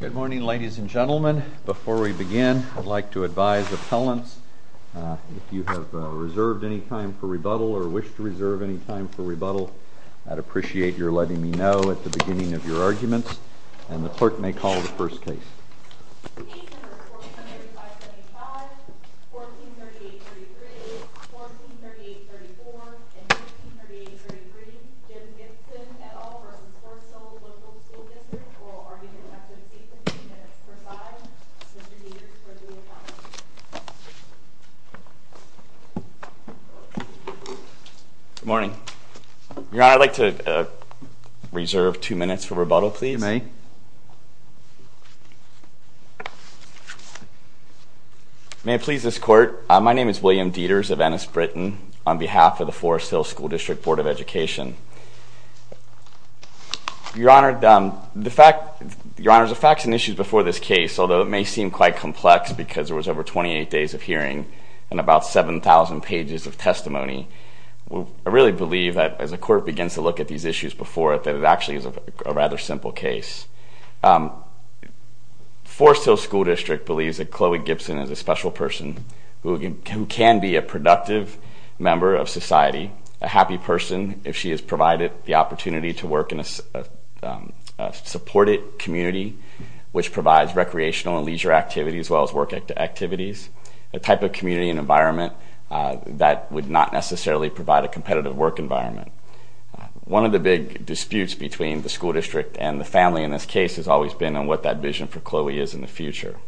Good morning, ladies and gentlemen. Before we begin, I'd like to advise appellants, if you have reserved any time for rebuttal or wish to reserve any time for rebuttal, I'd appreciate your letting me know at the beginning of your arguments, and the clerk may call the first case. Case number 1475-75, 1438-33, 1438-34, and 1438-33, Jim Gibson v. Forest Hills Local School District, oral argument effective 8 minutes per side. Mr. Gibbs for due account. Good morning. Your Honor, I'd like to reserve two minutes for rebuttal, please. You may. May it please this Court, my name is William Dieters of Ennis, Britain, on behalf of the Forest Hills School District Board of Education. Your Honor, the facts and issues before this case, although it may seem quite complex because there was over 28 days of hearing and about 7,000 pages of testimony, I really believe that as the Court begins to look at these issues before it, that it actually is a rather simple case. Forest Hills School District believes that Chloe Gibson is a special person who can be a productive member of society, a happy person if she is provided the opportunity to work in a supported community, which provides recreational and leisure activities as well as work activities, a type of community and environment that would not necessarily provide a competitive work environment. One of the big disputes between the school district and the family in this case has always been on what that vision for Chloe is in the future.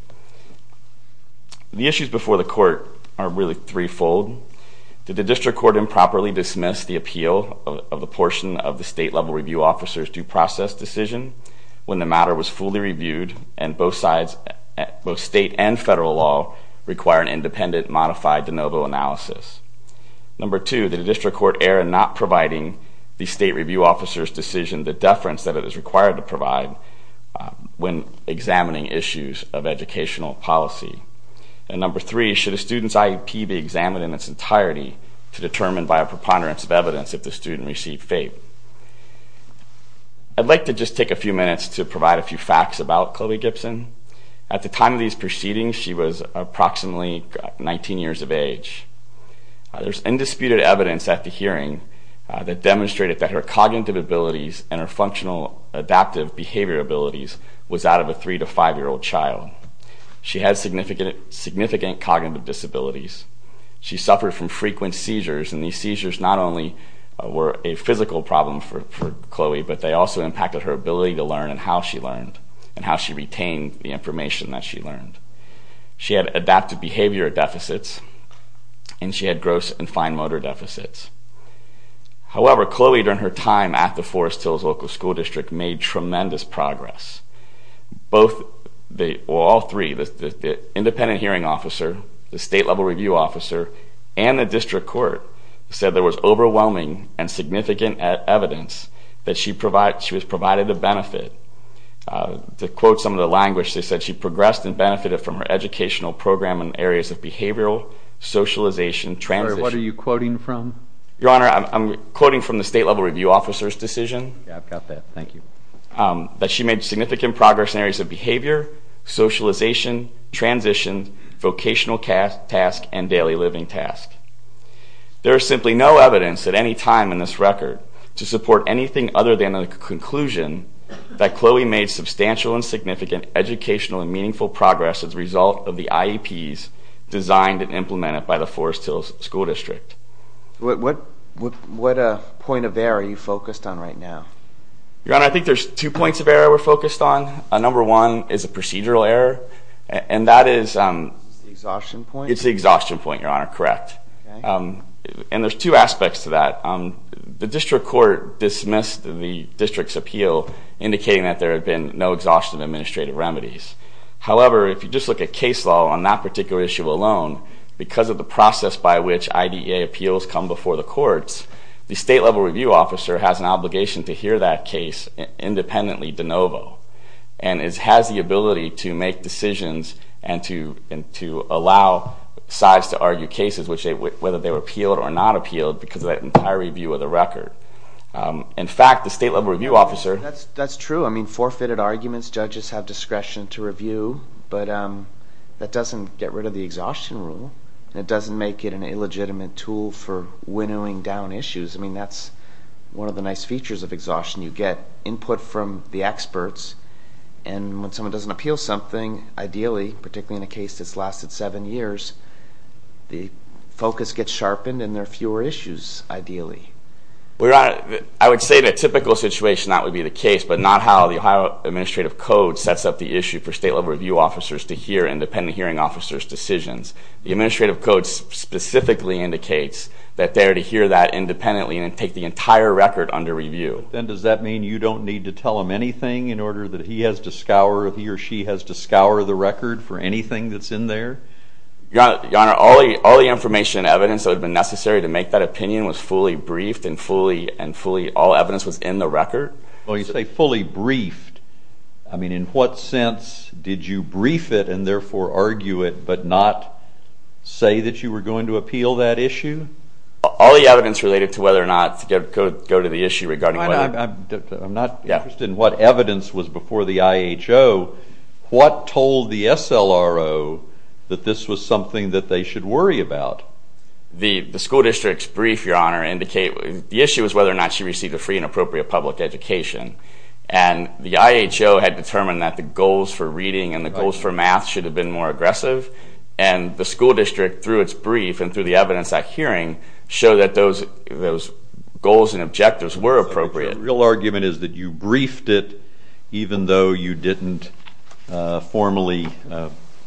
The issues before the Court are really threefold. Did the district court improperly dismiss the appeal of the portion of the state-level review officer's due process decision when the matter was fully reviewed and both state and federal law require an independent modified de novo analysis? Number two, did the district court err in not providing the state review officer's decision the deference that it is required to provide when examining issues of educational policy? And number three, should a student's IEP be examined in its entirety to determine by a preponderance of evidence if the student received FAPE? I'd like to just take a few minutes to provide a few facts about Chloe Gibson. At the time of these proceedings, she was approximately 19 years of age. There's indisputed evidence at the hearing that demonstrated that her cognitive abilities and her functional adaptive behavior abilities was out of a 3- to 5-year-old child. She had significant cognitive disabilities. She suffered from frequent seizures, and these seizures not only were a physical problem for Chloe, but they also impacted her ability to learn and how she learned and how she retained the information that she learned. She had adaptive behavior deficits, and she had gross and fine motor deficits. However, Chloe, during her time at the Forest Hills Local School District, made tremendous progress. All three, the independent hearing officer, the state-level review officer, and the district court said there was overwhelming and significant evidence that she was provided a benefit. To quote some of the language, they said she progressed and benefited from her educational program in areas of behavioral, socialization, transition... What are you quoting from? Your Honor, I'm quoting from the state-level review officer's decision... Yeah, I've got that. Thank you. ...that she made significant progress in areas of behavior, socialization, transition, vocational task, and daily living task. There is simply no evidence at any time in this record to support anything other than the conclusion that Chloe made substantial and significant educational and meaningful progress as a result of the IEPs designed and implemented by the Forest Hills School District. What point of error are you focused on right now? Your Honor, I think there's two points of error we're focused on. Number one is a procedural error, and that is... Exhaustion point? It's the exhaustion point, Your Honor. Correct. And there's two aspects to that. The district court dismissed the district's appeal, indicating that there had been no exhaustion of administrative remedies. However, if you just look at case law on that particular issue alone, because of the process by which IDEA appeals come before the courts, the state-level review officer has an obligation to hear that case independently de novo. And it has the ability to make decisions and to allow sides to argue cases, whether they were appealed or not appealed, because of that entire review of the record. In fact, the state-level review officer... That's true. I mean, forfeited arguments, judges have discretion to review, but that doesn't get rid of the exhaustion rule. It doesn't make it an illegitimate tool for winnowing down issues. I mean, that's one of the nice features of exhaustion. You get input from the experts, and when someone doesn't appeal something, ideally, particularly in a case that's lasted seven years, the focus gets sharpened and there are fewer issues, ideally. I would say in a typical situation that would be the case, but not how the Ohio Administrative Code sets up the issue for state-level review officers to hear independent hearing officers' decisions. The Administrative Code specifically indicates that they are to hear that independently and take the entire record under review. Then does that mean you don't need to tell him anything in order that he or she has to scour the record for anything that's in there? Your Honor, all the information and evidence that would have been necessary to make that opinion was fully briefed and all evidence was in the record. Well, you say fully briefed. I mean, in what sense did you brief it and therefore argue it, but not say that you were going to appeal that issue? All the evidence related to whether or not to go to the issue regarding whether... I'm not interested in what evidence was before the IHO. What told the SLRO that this was something that they should worry about? Well, the school district's brief, Your Honor, indicates...the issue is whether or not she received a free and appropriate public education. And the IHO had determined that the goals for reading and the goals for math should have been more aggressive. And the school district, through its brief and through the evidence at hearing, showed that those goals and objectives were appropriate. So the real argument is that you briefed it even though you didn't formally,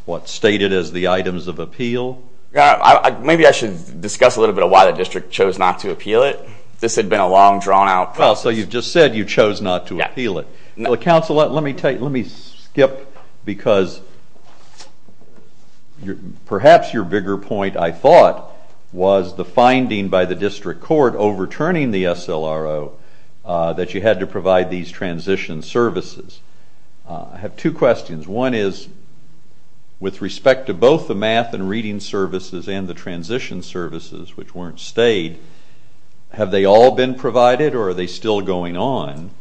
what, state it as the items of appeal? Maybe I should discuss a little bit of why the district chose not to appeal it. This had been a long, drawn-out process. Well, so you just said you chose not to appeal it. Yeah. Counsel, let me skip because perhaps your bigger point, I thought, was the finding by the district court overturning the SLRO that you had to provide these transition services. I have two questions. One is, with respect to both the math and reading services and the transition services, which weren't stayed, have they all been provided or are they still going on?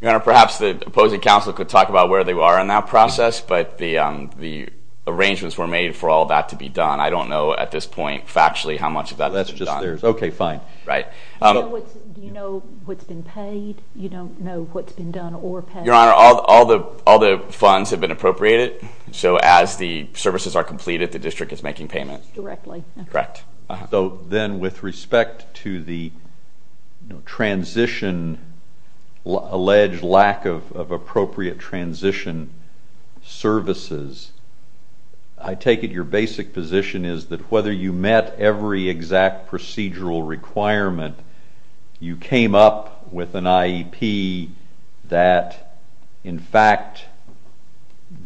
Your Honor, perhaps the opposing counsel could talk about where they are in that process, but the arrangements were made for all that to be done. I don't know at this point, factually, how much of that is done. That's just theirs. Okay, fine. Right. Do you know what's been paid? You don't know what's been done or paid? Your Honor, all the funds have been appropriated, so as the services are completed, the district is making payments. Directly. Correct. So then with respect to the transition, alleged lack of appropriate transition services, I take it your basic position is that whether you met every exact procedural requirement, you came up with an IEP that, in fact,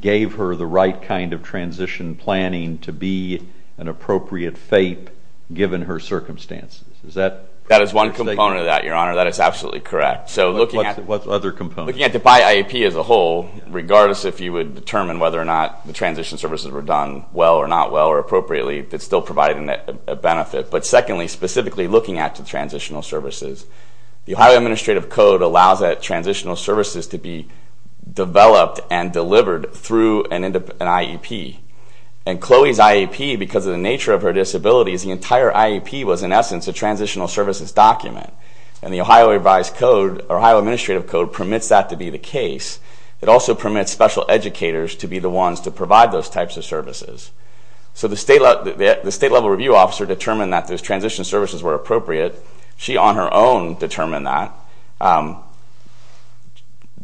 gave her the right kind of transition planning to be an appropriate FAPE given her circumstances. Is that correct or mistaken? That is one component of that, Your Honor. That is absolutely correct. What other components? Looking at the by IEP as a whole, regardless if you would determine whether or not the transition services were done well or not well or appropriately, it's still providing a benefit. But secondly, specifically looking at the transitional services, the Ohio Administrative Code allows that transitional services to be developed and delivered through an IEP. And Chloe's IEP, because of the nature of her disabilities, the entire IEP was, in essence, a transitional services document. And the Ohio Administrative Code permits that to be the case. It also permits special educators to be the ones to provide those types of services. So the state-level review officer determined that those transition services were appropriate. She, on her own, determined that.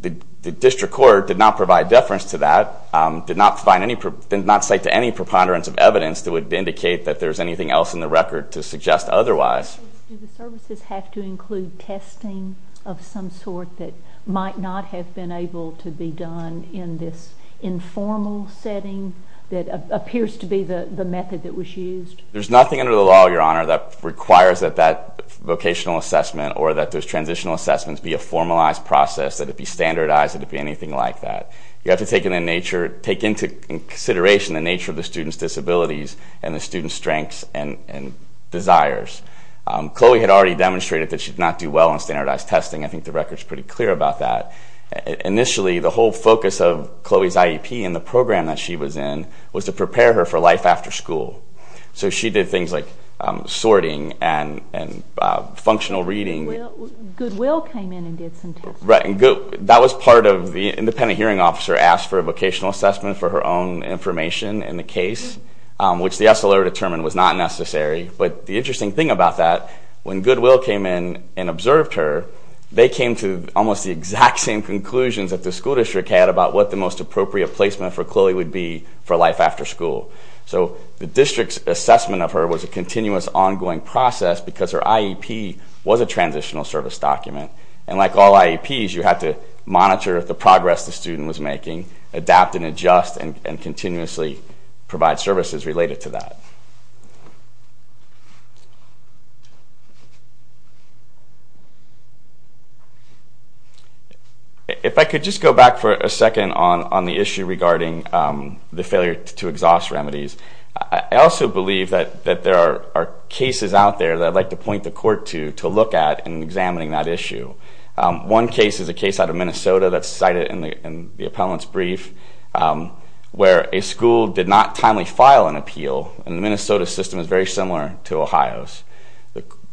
The district court did not provide deference to that, did not cite to any preponderance of evidence that would indicate that there's anything else in the record to suggest otherwise. Do the services have to include testing of some sort that might not have been able to be done in this informal setting that appears to be the method that was used? There's nothing under the law, Your Honor, that requires that that vocational assessment or that those transitional assessments be a formalized process, that it be standardized, that it be anything like that. You have to take into consideration the nature of the student's disabilities and the student's strengths and desires. Chloe had already demonstrated that she did not do well in standardized testing. I think the record's pretty clear about that. Initially, the whole focus of Chloe's IEP and the program that she was in was to prepare her for life after school. So she did things like sorting and functional reading. Goodwill came in and did some testing. That was part of the independent hearing officer asked for a vocational assessment for her own information in the case, which the SLO determined was not necessary. But the interesting thing about that, when Goodwill came in and observed her, they came to almost the exact same conclusions that the school district had about what the most appropriate placement for Chloe would be for life after school. So the district's assessment of her was a continuous, ongoing process because her IEP was a transitional service document. And like all IEPs, you had to monitor the progress the student was making, adapt and adjust, and continuously provide services related to that. If I could just go back for a second on the issue regarding the failure to exhaust remedies. I also believe that there are cases out there that I'd like to point the court to look at in examining that issue. One case is a case out of Minnesota that's cited in the appellant's brief where a school did not timely file an appeal. And the Minnesota system is very similar to Ohio's.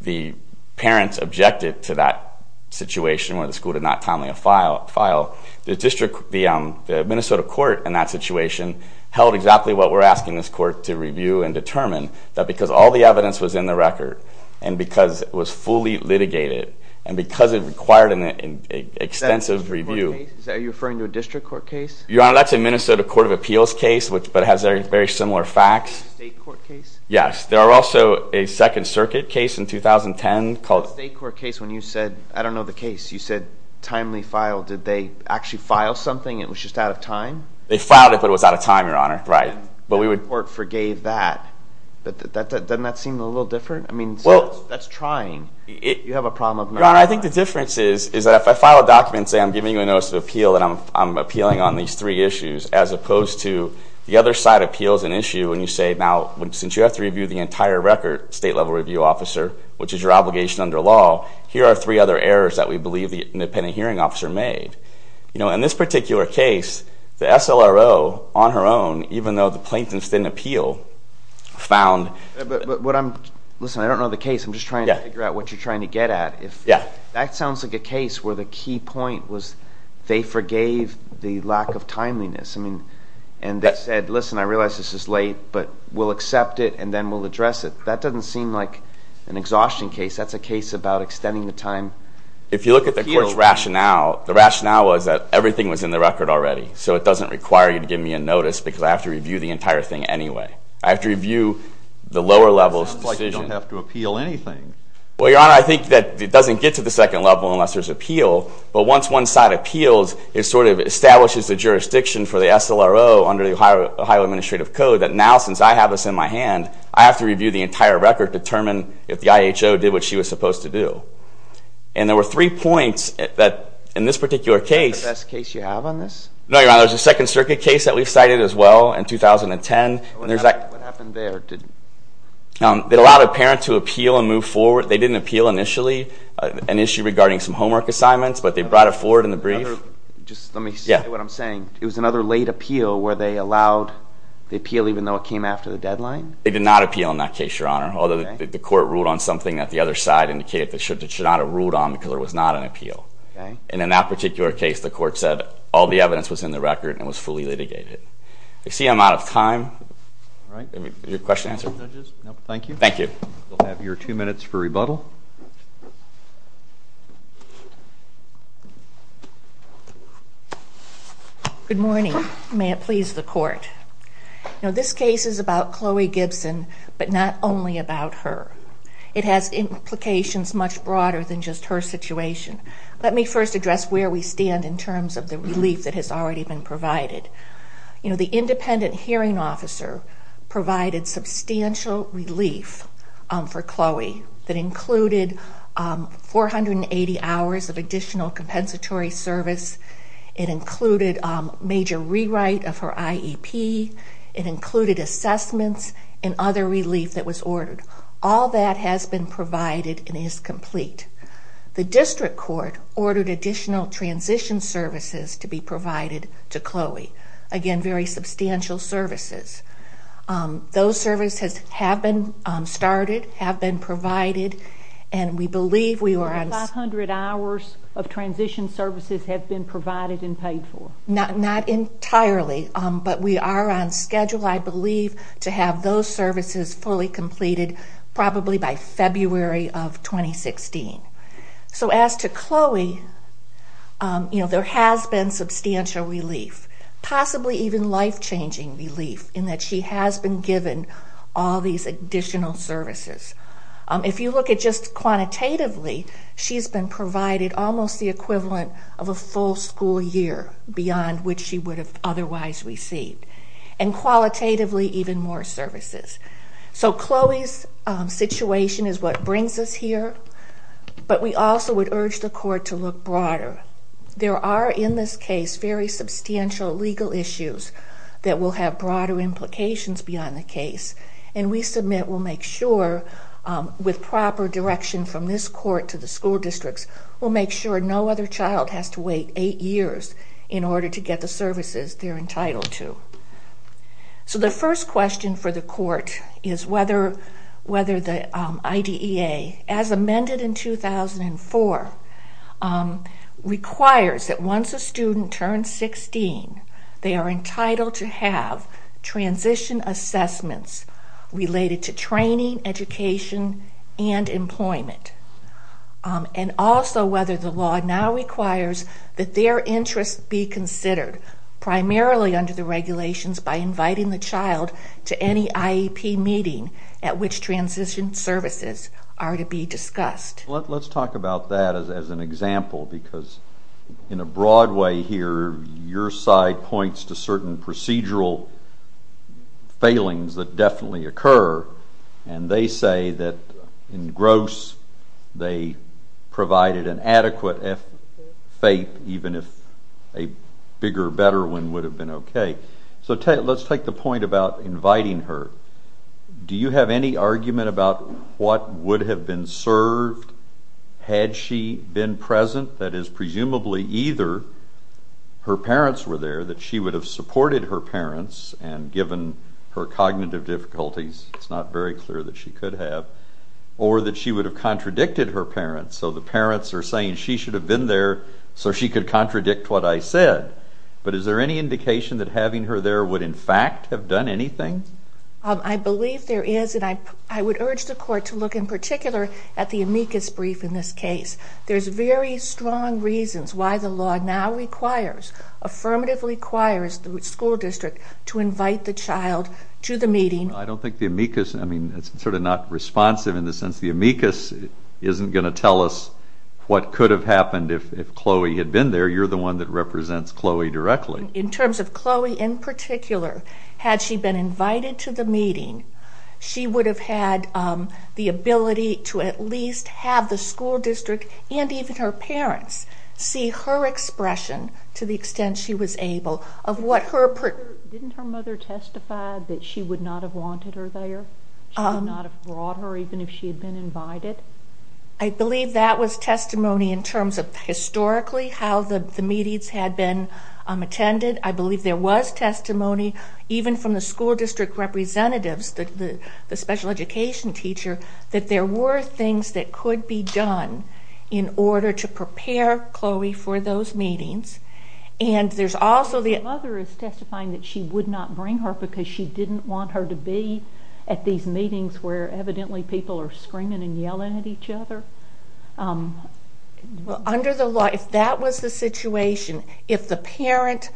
The parents objected to that situation where the school did not timely file. The Minnesota court in that situation held exactly what we're asking this court to review and determine that because all the evidence was in the record, and because it was fully litigated, and because it required an extensive review. Are you referring to a district court case? Your Honor, that's a Minnesota Court of Appeals case, but it has very similar facts. State court case? Yes. There are also a Second Circuit case in 2010 called- Did they actually file something? It was just out of time? They filed it, but it was out of time, Your Honor. Right. But we would- The court forgave that. Doesn't that seem a little different? I mean, that's trying. You have a problem of- Your Honor, I think the difference is that if I file a document and say I'm giving you a notice of appeal, that I'm appealing on these three issues, as opposed to the other side appeals an issue and you say, now, since you have to review the entire record, state-level review officer, which is your obligation under law, here are three other errors that we believe the independent hearing officer made. In this particular case, the SLRO on her own, even though the plaintiffs didn't appeal, found- But what I'm- Listen, I don't know the case. I'm just trying to figure out what you're trying to get at. That sounds like a case where the key point was they forgave the lack of timeliness. I mean, and they said, listen, I realize this is late, but we'll accept it and then we'll address it. That doesn't seem like an exhaustion case. That's a case about extending the time. If you look at the court's rationale, the rationale was that everything was in the record already, so it doesn't require you to give me a notice because I have to review the entire thing anyway. I have to review the lower level's decision. It sounds like you don't have to appeal anything. Well, Your Honor, I think that it doesn't get to the second level unless there's appeal, but once one side appeals, it sort of establishes the jurisdiction for the SLRO under the Ohio Administrative Code that now, since I have this in my hand, I have to review the entire record to determine if the IHO did what she was supposed to do. And there were three points that in this particular case- Is that the best case you have on this? No, Your Honor. There's a Second Circuit case that we've cited as well in 2010. What happened there? It allowed a parent to appeal and move forward. They didn't appeal initially an issue regarding some homework assignments, but they brought it forward in the brief. Just let me say what I'm saying. It was another late appeal where they allowed the appeal even though it came after the deadline? They did not appeal in that case, Your Honor, although the court ruled on something that the other side indicated that it should not have ruled on because there was not an appeal. And in that particular case, the court said all the evidence was in the record and was fully litigated. I see I'm out of time. Is your question answered? Thank you. Thank you. We'll have your two minutes for rebuttal. Good morning. May it please the court. This case is about Chloe Gibson, but not only about her. It has implications much broader than just her situation. Let me first address where we stand in terms of the relief that has already been provided. The independent hearing officer provided substantial relief for Chloe that included 480 hours of additional compensatory service. It included major rewrite of her IEP. It included assessments and other relief that was ordered. All that has been provided and is complete. The district court ordered additional transition services to be provided to Chloe. Again, very substantial services. Those services have been started, have been provided, and we believe we were on... Not entirely, but we are on schedule, I believe, to have those services fully completed probably by February of 2016. As to Chloe, there has been substantial relief, possibly even life-changing relief, in that she has been given all these additional services. If you look at just quantitatively, she has been provided almost the equivalent of a full school year beyond which she would have otherwise received, and qualitatively even more services. So Chloe's situation is what brings us here, but we also would urge the court to look broader. There are in this case very substantial legal issues that will have broader implications beyond the case, and we submit we'll make sure, with proper direction from this court to the school districts, we'll make sure no other child has to wait eight years in order to get the services they're entitled to. So the first question for the court is whether the IDEA, as amended in 2004, requires that once a student turns 16, they are entitled to have transition assessments related to training, education, and employment, and also whether the law now requires that their interests be considered, primarily under the regulations by inviting the child to any IEP meeting at which transition services are to be discussed. Let's talk about that as an example, because in a broad way here, your side points to certain procedural failings that definitely occur, and they say that in Gross they provided an adequate FAPE even if a bigger, better one would have been okay. So let's take the point about inviting her. Do you have any argument about what would have been served had she been present? That is, presumably either her parents were there, that she would have supported her parents, and given her cognitive difficulties, it's not very clear that she could have, or that she would have contradicted her parents. So the parents are saying she should have been there so she could contradict what I said. But is there any indication that having her there would in fact have done anything? I believe there is, and I would urge the Court to look in particular at the amicus brief in this case. There's very strong reasons why the law now requires, affirmatively requires the school district to invite the child to the meeting. I don't think the amicus, I mean, it's sort of not responsive in the sense the amicus isn't going to tell us what could have happened if Chloe had been there. You're the one that represents Chloe directly. In terms of Chloe in particular, had she been invited to the meeting, she would have had the ability to at least have the school district and even her parents see her expression, to the extent she was able, of what her... Didn't her mother testify that she would not have wanted her there? She would not have brought her even if she had been invited? I believe that was testimony in terms of historically how the meetings had been attended. I believe there was testimony, even from the school district representatives, the special education teacher, that there were things that could be done in order to prepare Chloe for those meetings. And there's also the... Her mother is testifying that she would not bring her because she didn't want her to be at these meetings where evidently people are screaming and yelling at each other? Under the law, if that was the situation, if the parent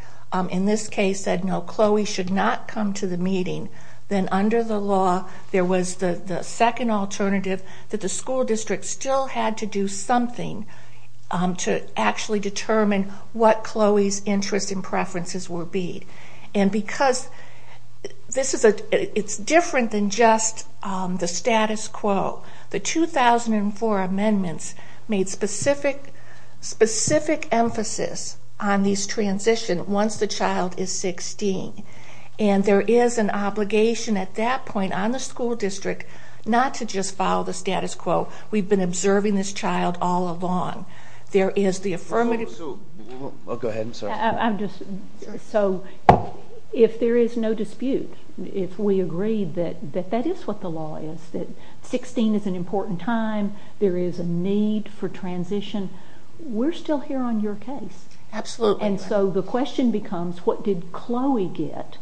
in this case said, no, Chloe should not come to the meeting, then under the law there was the second alternative that the school district still had to do something to actually determine what Chloe's interests and preferences would be. And because this is a... It's different than just the status quo. The 2004 amendments made specific emphasis on this transition once the child is 16. And there is an obligation at that point on the school district not to just follow the status quo. We've been observing this child all along. There is the affirmative... I'll go ahead. I'm sorry. So if there is no dispute, if we agree that that is what the law is, that 16 is an important time, there is a need for transition, we're still here on your case. Absolutely. And so the question becomes, what did Chloe get?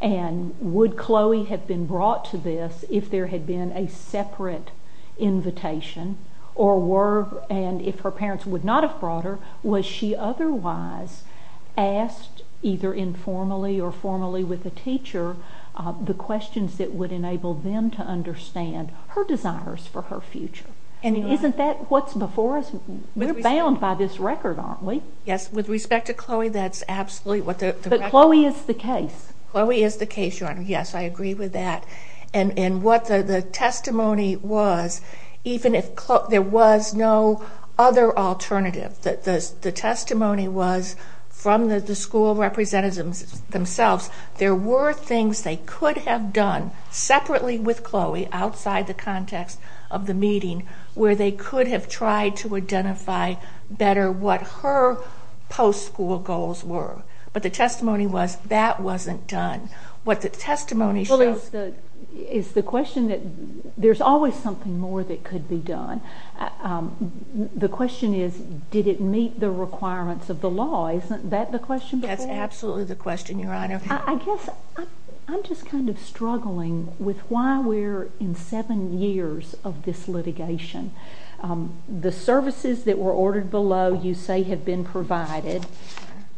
And would Chloe have been brought to this if there had been a separate invitation? And if her parents would not have brought her, was she otherwise asked, either informally or formally with a teacher, the questions that would enable them to understand her desires for her future? And isn't that what's before us? We're bound by this record, aren't we? Yes. With respect to Chloe, that's absolutely what the record... But Chloe is the case. Chloe is the case, Your Honor. Yes, I agree with that. And what the testimony was, even if there was no other alternative, the testimony was from the school representatives themselves, there were things they could have done separately with Chloe outside the context of the meeting where they could have tried to identify better what her post-school goals were. But the testimony was that wasn't done. What the testimony shows... Well, is the question that... There's always something more that could be done. The question is, did it meet the requirements of the law? Isn't that the question? That's absolutely the question, Your Honor. I guess I'm just kind of struggling with why we're in seven years of this litigation. The services that were ordered below you say have been provided.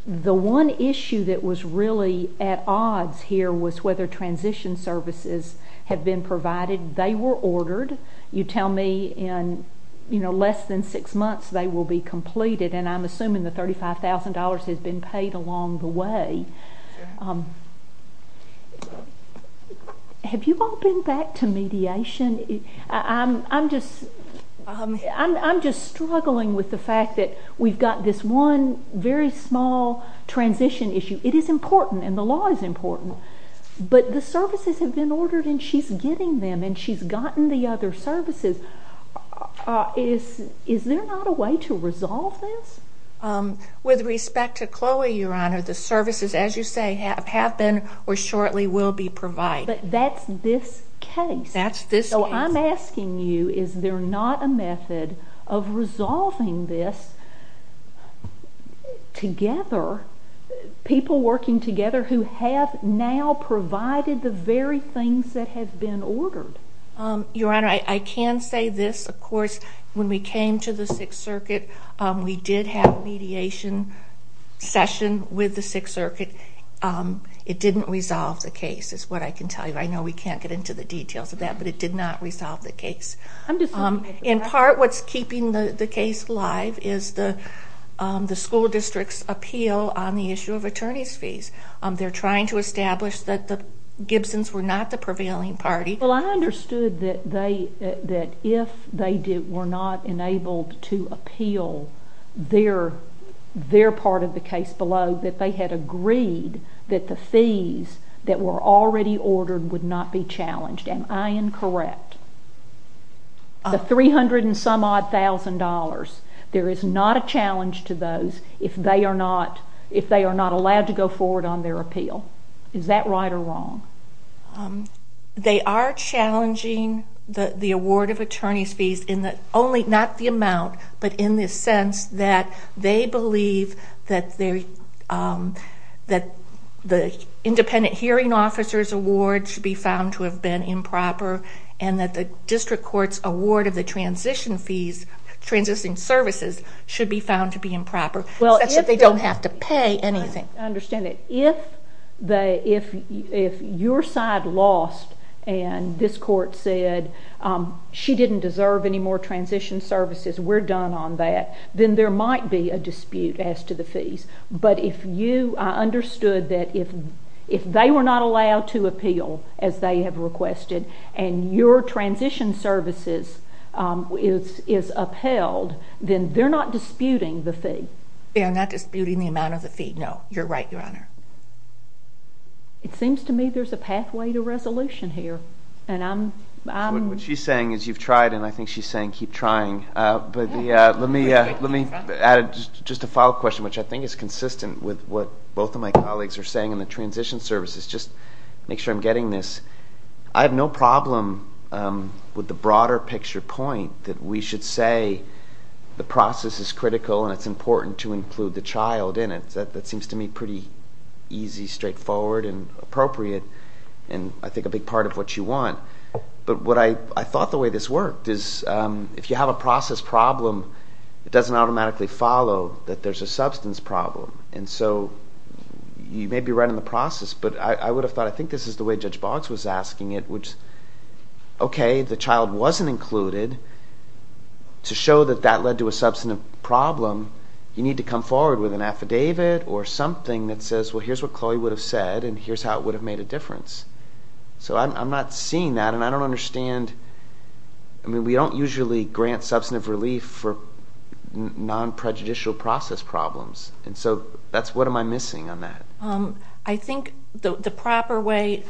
The one issue that was really at odds here was whether transition services have been provided. They were ordered. You tell me in, you know, less than six months they will be completed, and I'm assuming the $35,000 has been paid along the way. Have you all been back to mediation? I'm just struggling with the fact that we've got this one very small transition issue. It is important, and the law is important, but the services have been ordered and she's getting them and she's gotten the other services. Is there not a way to resolve this? With respect to Chloe, Your Honor, the services, as you say, have been or shortly will be provided. But that's this case. So I'm asking you, is there not a method of resolving this together, people working together who have now provided the very things that have been ordered? Your Honor, I can say this. Of course, when we came to the Sixth Circuit, we did have a mediation session with the Sixth Circuit. It didn't resolve the case, is what I can tell you. I know we can't get into the details of that, but it did not resolve the case. In part, what's keeping the case alive is the school district's appeal on the issue of attorneys' fees. They're trying to establish that the Gibsons were not the prevailing party. Well, I understood that if they were not enabled to appeal their part of the case below, that they had agreed that the fees that were already ordered would not be challenged. Am I incorrect? The $300-and-some-odd thousand dollars, there is not a challenge to those if they are not allowed to go forward on their appeal. Is that right or wrong? They are challenging the award of attorneys' fees not the amount, but in the sense that they believe that the independent hearing officer's award should be found to have been improper and that the district court's award of the transition services should be found to be improper, such that they don't have to pay anything. I understand that. If your side lost and this court said, she didn't deserve any more transition services, we're done on that, then there might be a dispute as to the fees. But I understood that if they were not allowed to appeal, as they have requested, and your transition services is upheld, then they're not disputing the fee. They are not disputing the amount of the fee. No, you're right, Your Honor. It seems to me there's a pathway to resolution here. What she's saying is you've tried, and I think she's saying keep trying. Let me add just a follow-up question, which I think is consistent with what both of my colleagues are saying on the transition services. Just make sure I'm getting this. I have no problem with the broader picture point that we should say the process is critical and it's important to include the child in it. That seems to me pretty easy, straightforward, and appropriate, and I think a big part of what you want. But I thought the way this worked is if you have a process problem, it doesn't automatically follow that there's a substance problem. And so you may be right on the process, but I would have thought I think this is the way Judge Boggs was asking it, which, okay, the child wasn't included. To show that that led to a substantive problem, you need to come forward with an affidavit or something that says, well, here's what Chloe would have said and here's how it would have made a difference. So I'm not seeing that, and I don't understand. I mean, we don't usually grant substantive relief for non-prejudicial process problems, and so what am I missing on that? I think the proper way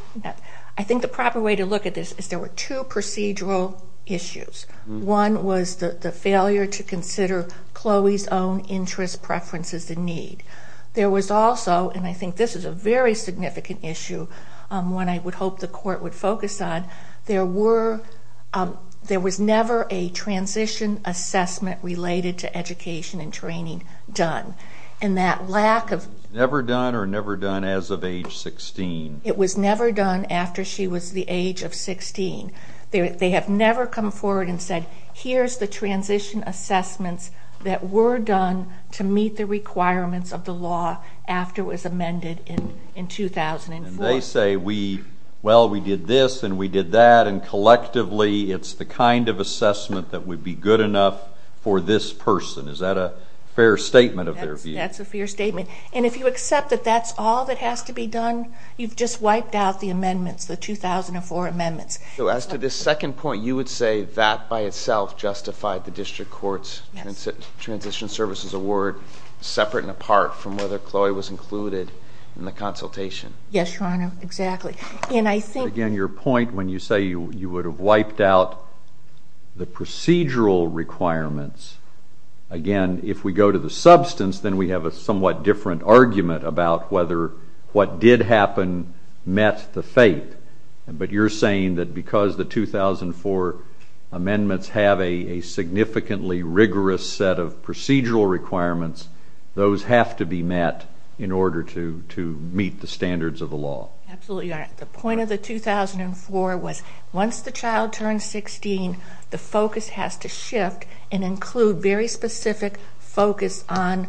to look at this is there were two procedural issues. One was the failure to consider Chloe's own interest, preferences, and need. There was also, and I think this is a very significant issue, one I would hope the court would focus on, there was never a transition assessment related to education and training done. And that lack of... Never done or never done as of age 16. It was never done after she was the age of 16. They have never come forward and said, here's the transition assessments that were done to meet the requirements of the law after it was amended in 2004. And they say, well, we did this and we did that, and collectively it's the kind of assessment that would be good enough for this person. Is that a fair statement of their view? That's a fair statement. And if you accept that that's all that has to be done, you've just wiped out the amendments, the 2004 amendments. So as to this second point, you would say that by itself justified the district court's transition services award separate and apart from whether Chloe was included in the consultation? Yes, Your Honor, exactly. And I think... Again, your point when you say you would have wiped out the procedural requirements, again, if we go to the substance, then we have a somewhat different argument about whether what did happen met the fate. But you're saying that because the 2004 amendments have a significantly rigorous set of procedural requirements, those have to be met in order to meet the standards of the law. Absolutely, Your Honor. The point of the 2004 was once the child turns 16, the focus has to shift and include very specific focus on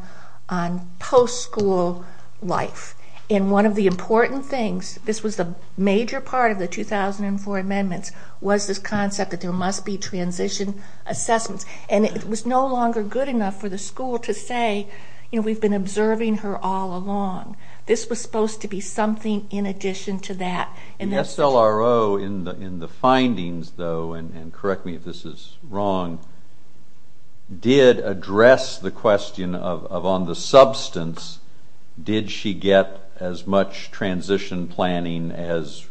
post-school life. And one of the important things, this was a major part of the 2004 amendments, was this concept that there must be transition assessments. And it was no longer good enough for the school to say, you know, we've been observing her all along. This was supposed to be something in addition to that. The SLRO in the findings, though, and correct me if this is wrong, did address the question of on the substance, did she get as much transition planning as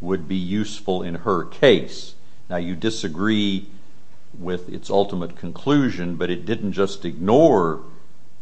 would be useful in her case? Now, you disagree with its ultimate conclusion, but it didn't just ignore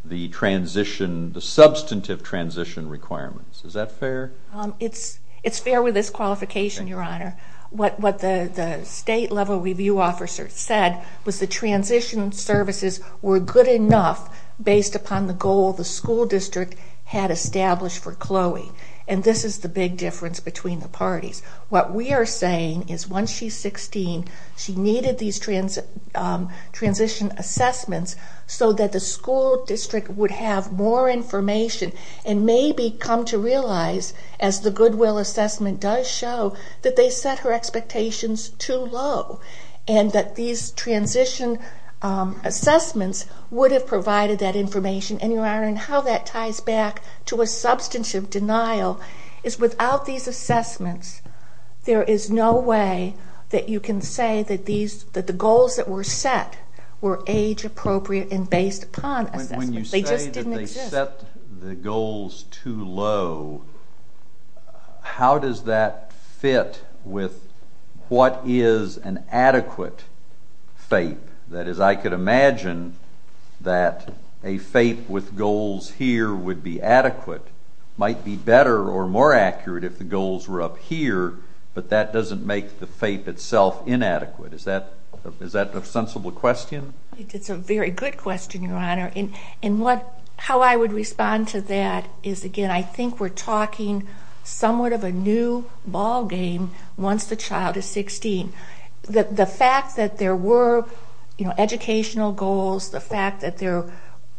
the transition, the substantive transition requirements. Is that fair? It's fair with this qualification, Your Honor. What the state level review officer said was the transition services were good enough based upon the goal the school district had established for Chloe. And this is the big difference between the parties. What we are saying is once she's 16, she needed these transition assessments so that the school district would have more information and maybe come to realize, as the Goodwill assessment does show, that they set her expectations too low and that these transition assessments would have provided that information. And, Your Honor, how that ties back to a substantive denial is without these assessments, there is no way that you can say that the goals that were set were age-appropriate and based upon assessments. They just didn't exist. When you say that they set the goals too low, how does that fit with what is an adequate FAPE? That is, I could imagine that a FAPE with goals here would be adequate, might be better or more accurate if the goals were up here, but that doesn't make the FAPE itself inadequate. Is that a sensible question? It's a very good question, Your Honor. And how I would respond to that is, again, I think we're talking somewhat of a new ballgame once the child is 16. The fact that there were educational goals, the fact that there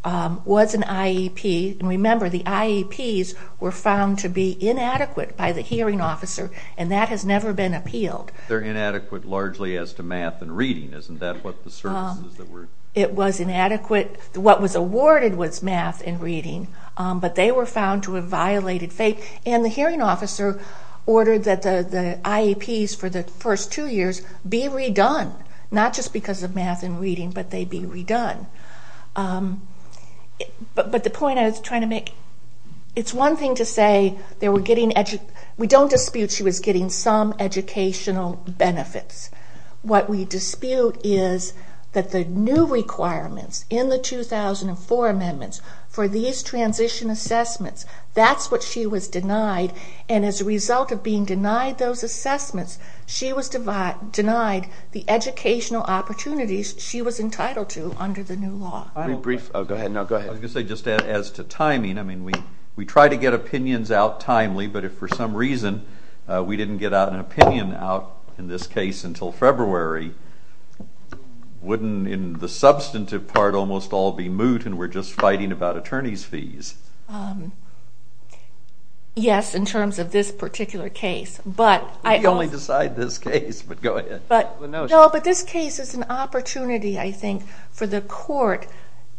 was an IEP, and remember the IEPs were found to be inadequate by the hearing officer, and that has never been appealed. They're inadequate largely as to math and reading, isn't that? It was inadequate. What was awarded was math and reading, but they were found to have violated FAPE. And the hearing officer ordered that the IEPs for the first two years be redone, not just because of math and reading, but they be redone. But the point I was trying to make, it's one thing to say we don't dispute she was getting some educational benefits. What we dispute is that the new requirements in the 2004 amendments for these transition assessments, that's what she was denied, and as a result of being denied those assessments, she was denied the educational opportunities she was entitled to under the new law. Go ahead. I was going to say just as to timing, we try to get opinions out timely, but if for some reason we didn't get an opinion out in this case until February, wouldn't in the substantive part almost all be moot and we're just fighting about attorney's fees? Yes, in terms of this particular case. You only decide this case, but go ahead. No, but this case is an opportunity, I think, for the court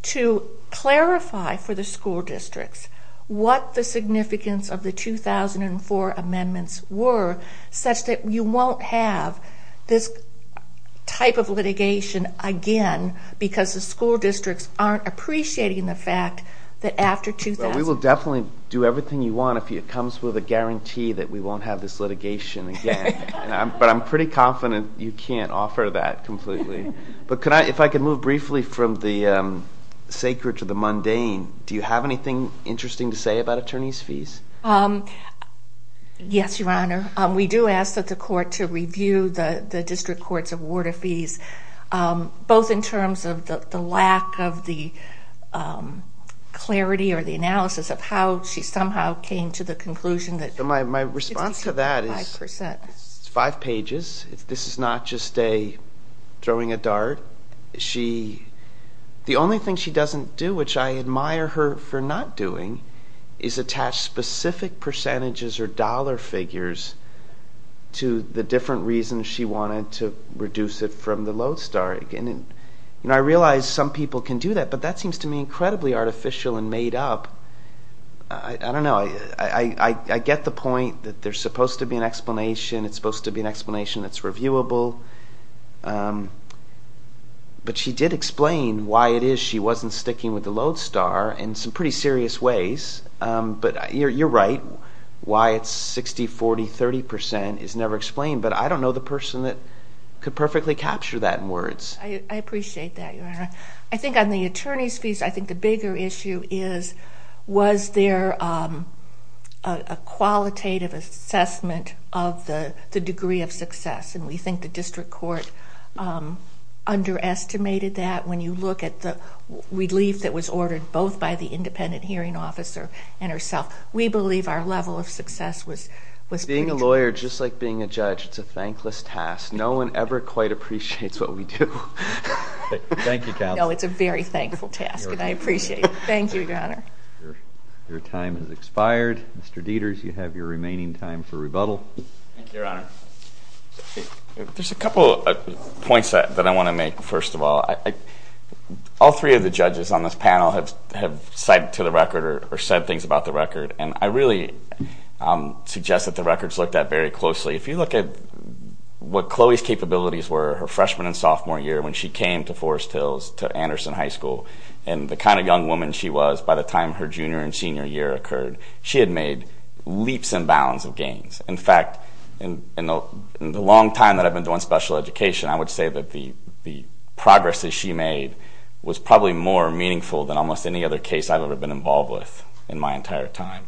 to clarify for the school districts what the significance of the 2004 amendments were, such that you won't have this type of litigation again because the school districts aren't appreciating the fact that after 2004. Well, we will definitely do everything you want if it comes with a guarantee that we won't have this litigation again, but I'm pretty confident you can't offer that completely. But if I could move briefly from the sacred to the mundane, do you have anything interesting to say about attorney's fees? Yes, Your Honor. Both in terms of the lack of the clarity or the analysis of how she somehow came to the conclusion that... My response to that is five pages. This is not just throwing a dart. The only thing she doesn't do, which I admire her for not doing, is attach specific percentages or dollar figures to the different reasons she wanted to reduce it from the Lodestar. I realize some people can do that, but that seems to me incredibly artificial and made up. I don't know. I get the point that there's supposed to be an explanation. It's supposed to be an explanation that's reviewable. But she did explain why it is she wasn't sticking with the Lodestar in some pretty serious ways. You're right. Why it's 60%, 40%, 30% is never explained. But I don't know the person that could perfectly capture that in words. I appreciate that, Your Honor. I think on the attorney's fees, I think the bigger issue is was there a qualitative assessment of the degree of success? And we think the district court underestimated that when you look at the relief that was ordered both by the independent hearing officer and herself. We believe our level of success was pretty good. Being a lawyer, just like being a judge, it's a thankless task. No one ever quite appreciates what we do. Thank you, counsel. No, it's a very thankful task, and I appreciate it. Thank you, Your Honor. Your time has expired. Mr. Dieters, you have your remaining time for rebuttal. Thank you, Your Honor. There's a couple of points that I want to make, first of all. All three of the judges on this panel have cited to the record or said things about the record, and I really suggest that the records looked at very closely. If you look at what Chloe's capabilities were her freshman and sophomore year when she came to Forest Hills to Anderson High School and the kind of young woman she was by the time her junior and senior year occurred, she had made leaps and bounds of gains. In fact, in the long time that I've been doing special education, I would say that the progress that she made was probably more meaningful than almost any other case I've ever been involved with in my entire time.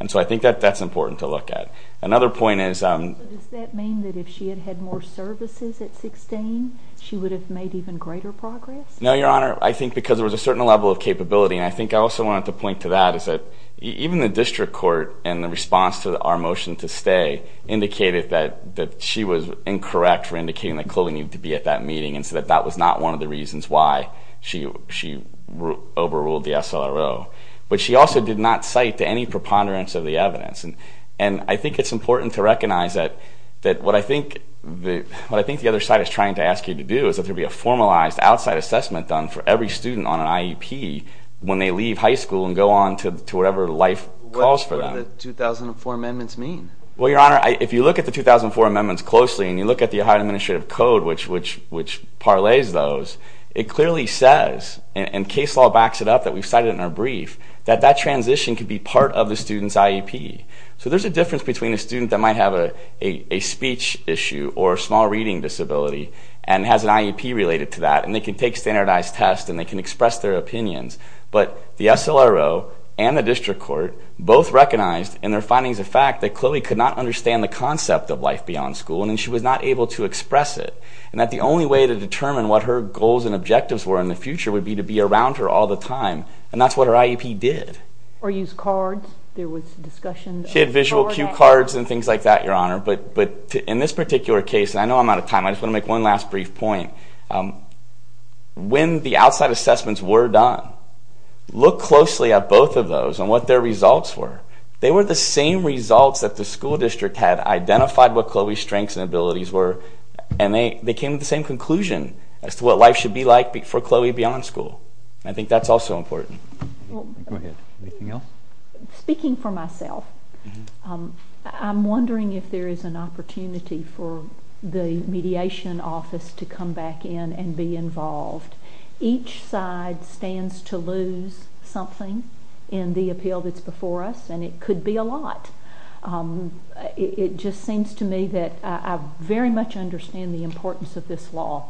And so I think that that's important to look at. Another point is— Does that mean that if she had had more services at 16, she would have made even greater progress? No, Your Honor. I think because there was a certain level of capability, and I think I also wanted to point to that is that even the district court and the response to our motion to stay indicated that she was incorrect for indicating that Chloe needed to be at that meeting and so that that was not one of the reasons why she overruled the SLRO. But she also did not cite to any preponderance of the evidence. And I think it's important to recognize that what I think the other side is trying to ask you to do is that there will be a formalized outside assessment done for every student on an IEP when they leave high school and go on to whatever life calls for them. What do the 2004 amendments mean? Well, Your Honor, if you look at the 2004 amendments closely and you look at the Ohio Administrative Code, which parlays those, it clearly says, and case law backs it up that we've cited in our brief, that that transition could be part of the student's IEP. So there's a difference between a student that might have a speech issue or a small reading disability and has an IEP related to that, and they can take standardized tests and they can express their opinions. But the SLRO and the district court both recognized in their findings the fact that Chloe could not understand the concept of life beyond school, and then she was not able to express it, and that the only way to determine what her goals and objectives were in the future would be to be around her all the time, and that's what her IEP did. Or use cards. There was discussion. She had visual cue cards and things like that, Your Honor. But in this particular case, and I know I'm out of time, I just want to make one last brief point. When the outside assessments were done, look closely at both of those and what their results were. They were the same results that the school district had identified what Chloe's strengths and abilities were, and they came to the same conclusion as to what life should be like for Chloe beyond school. I think that's also important. Anything else? Speaking for myself, I'm wondering if there is an opportunity for the mediation office to come back in and be involved. Each side stands to lose something in the appeal that's before us, and it could be a lot. It just seems to me that I very much understand the importance of this law,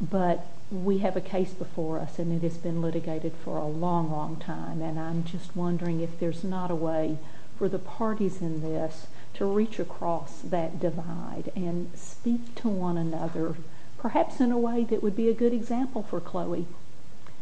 but we have a case before us, and it has been litigated for a long, long time, and I'm just wondering if there's not a way for the parties in this to reach across that divide and speak to one another, perhaps in a way that would be a good example for Chloe,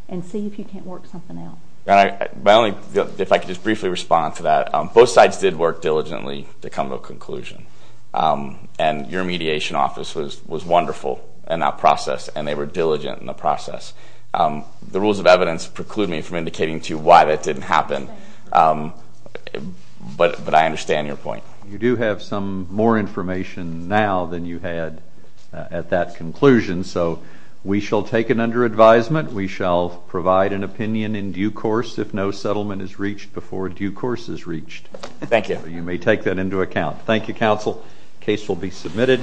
and see if you can't work something out. If I could just briefly respond to that. Both sides did work diligently to come to a conclusion, and your mediation office was wonderful in that process, and they were diligent in the process. The rules of evidence preclude me from indicating to you why that didn't happen, but I understand your point. You do have some more information now than you had at that conclusion, so we shall take it under advisement. We shall provide an opinion in due course if no settlement is reached before due course is reached. Thank you. You may take that into account. Thank you, Counsel. Case will be submitted.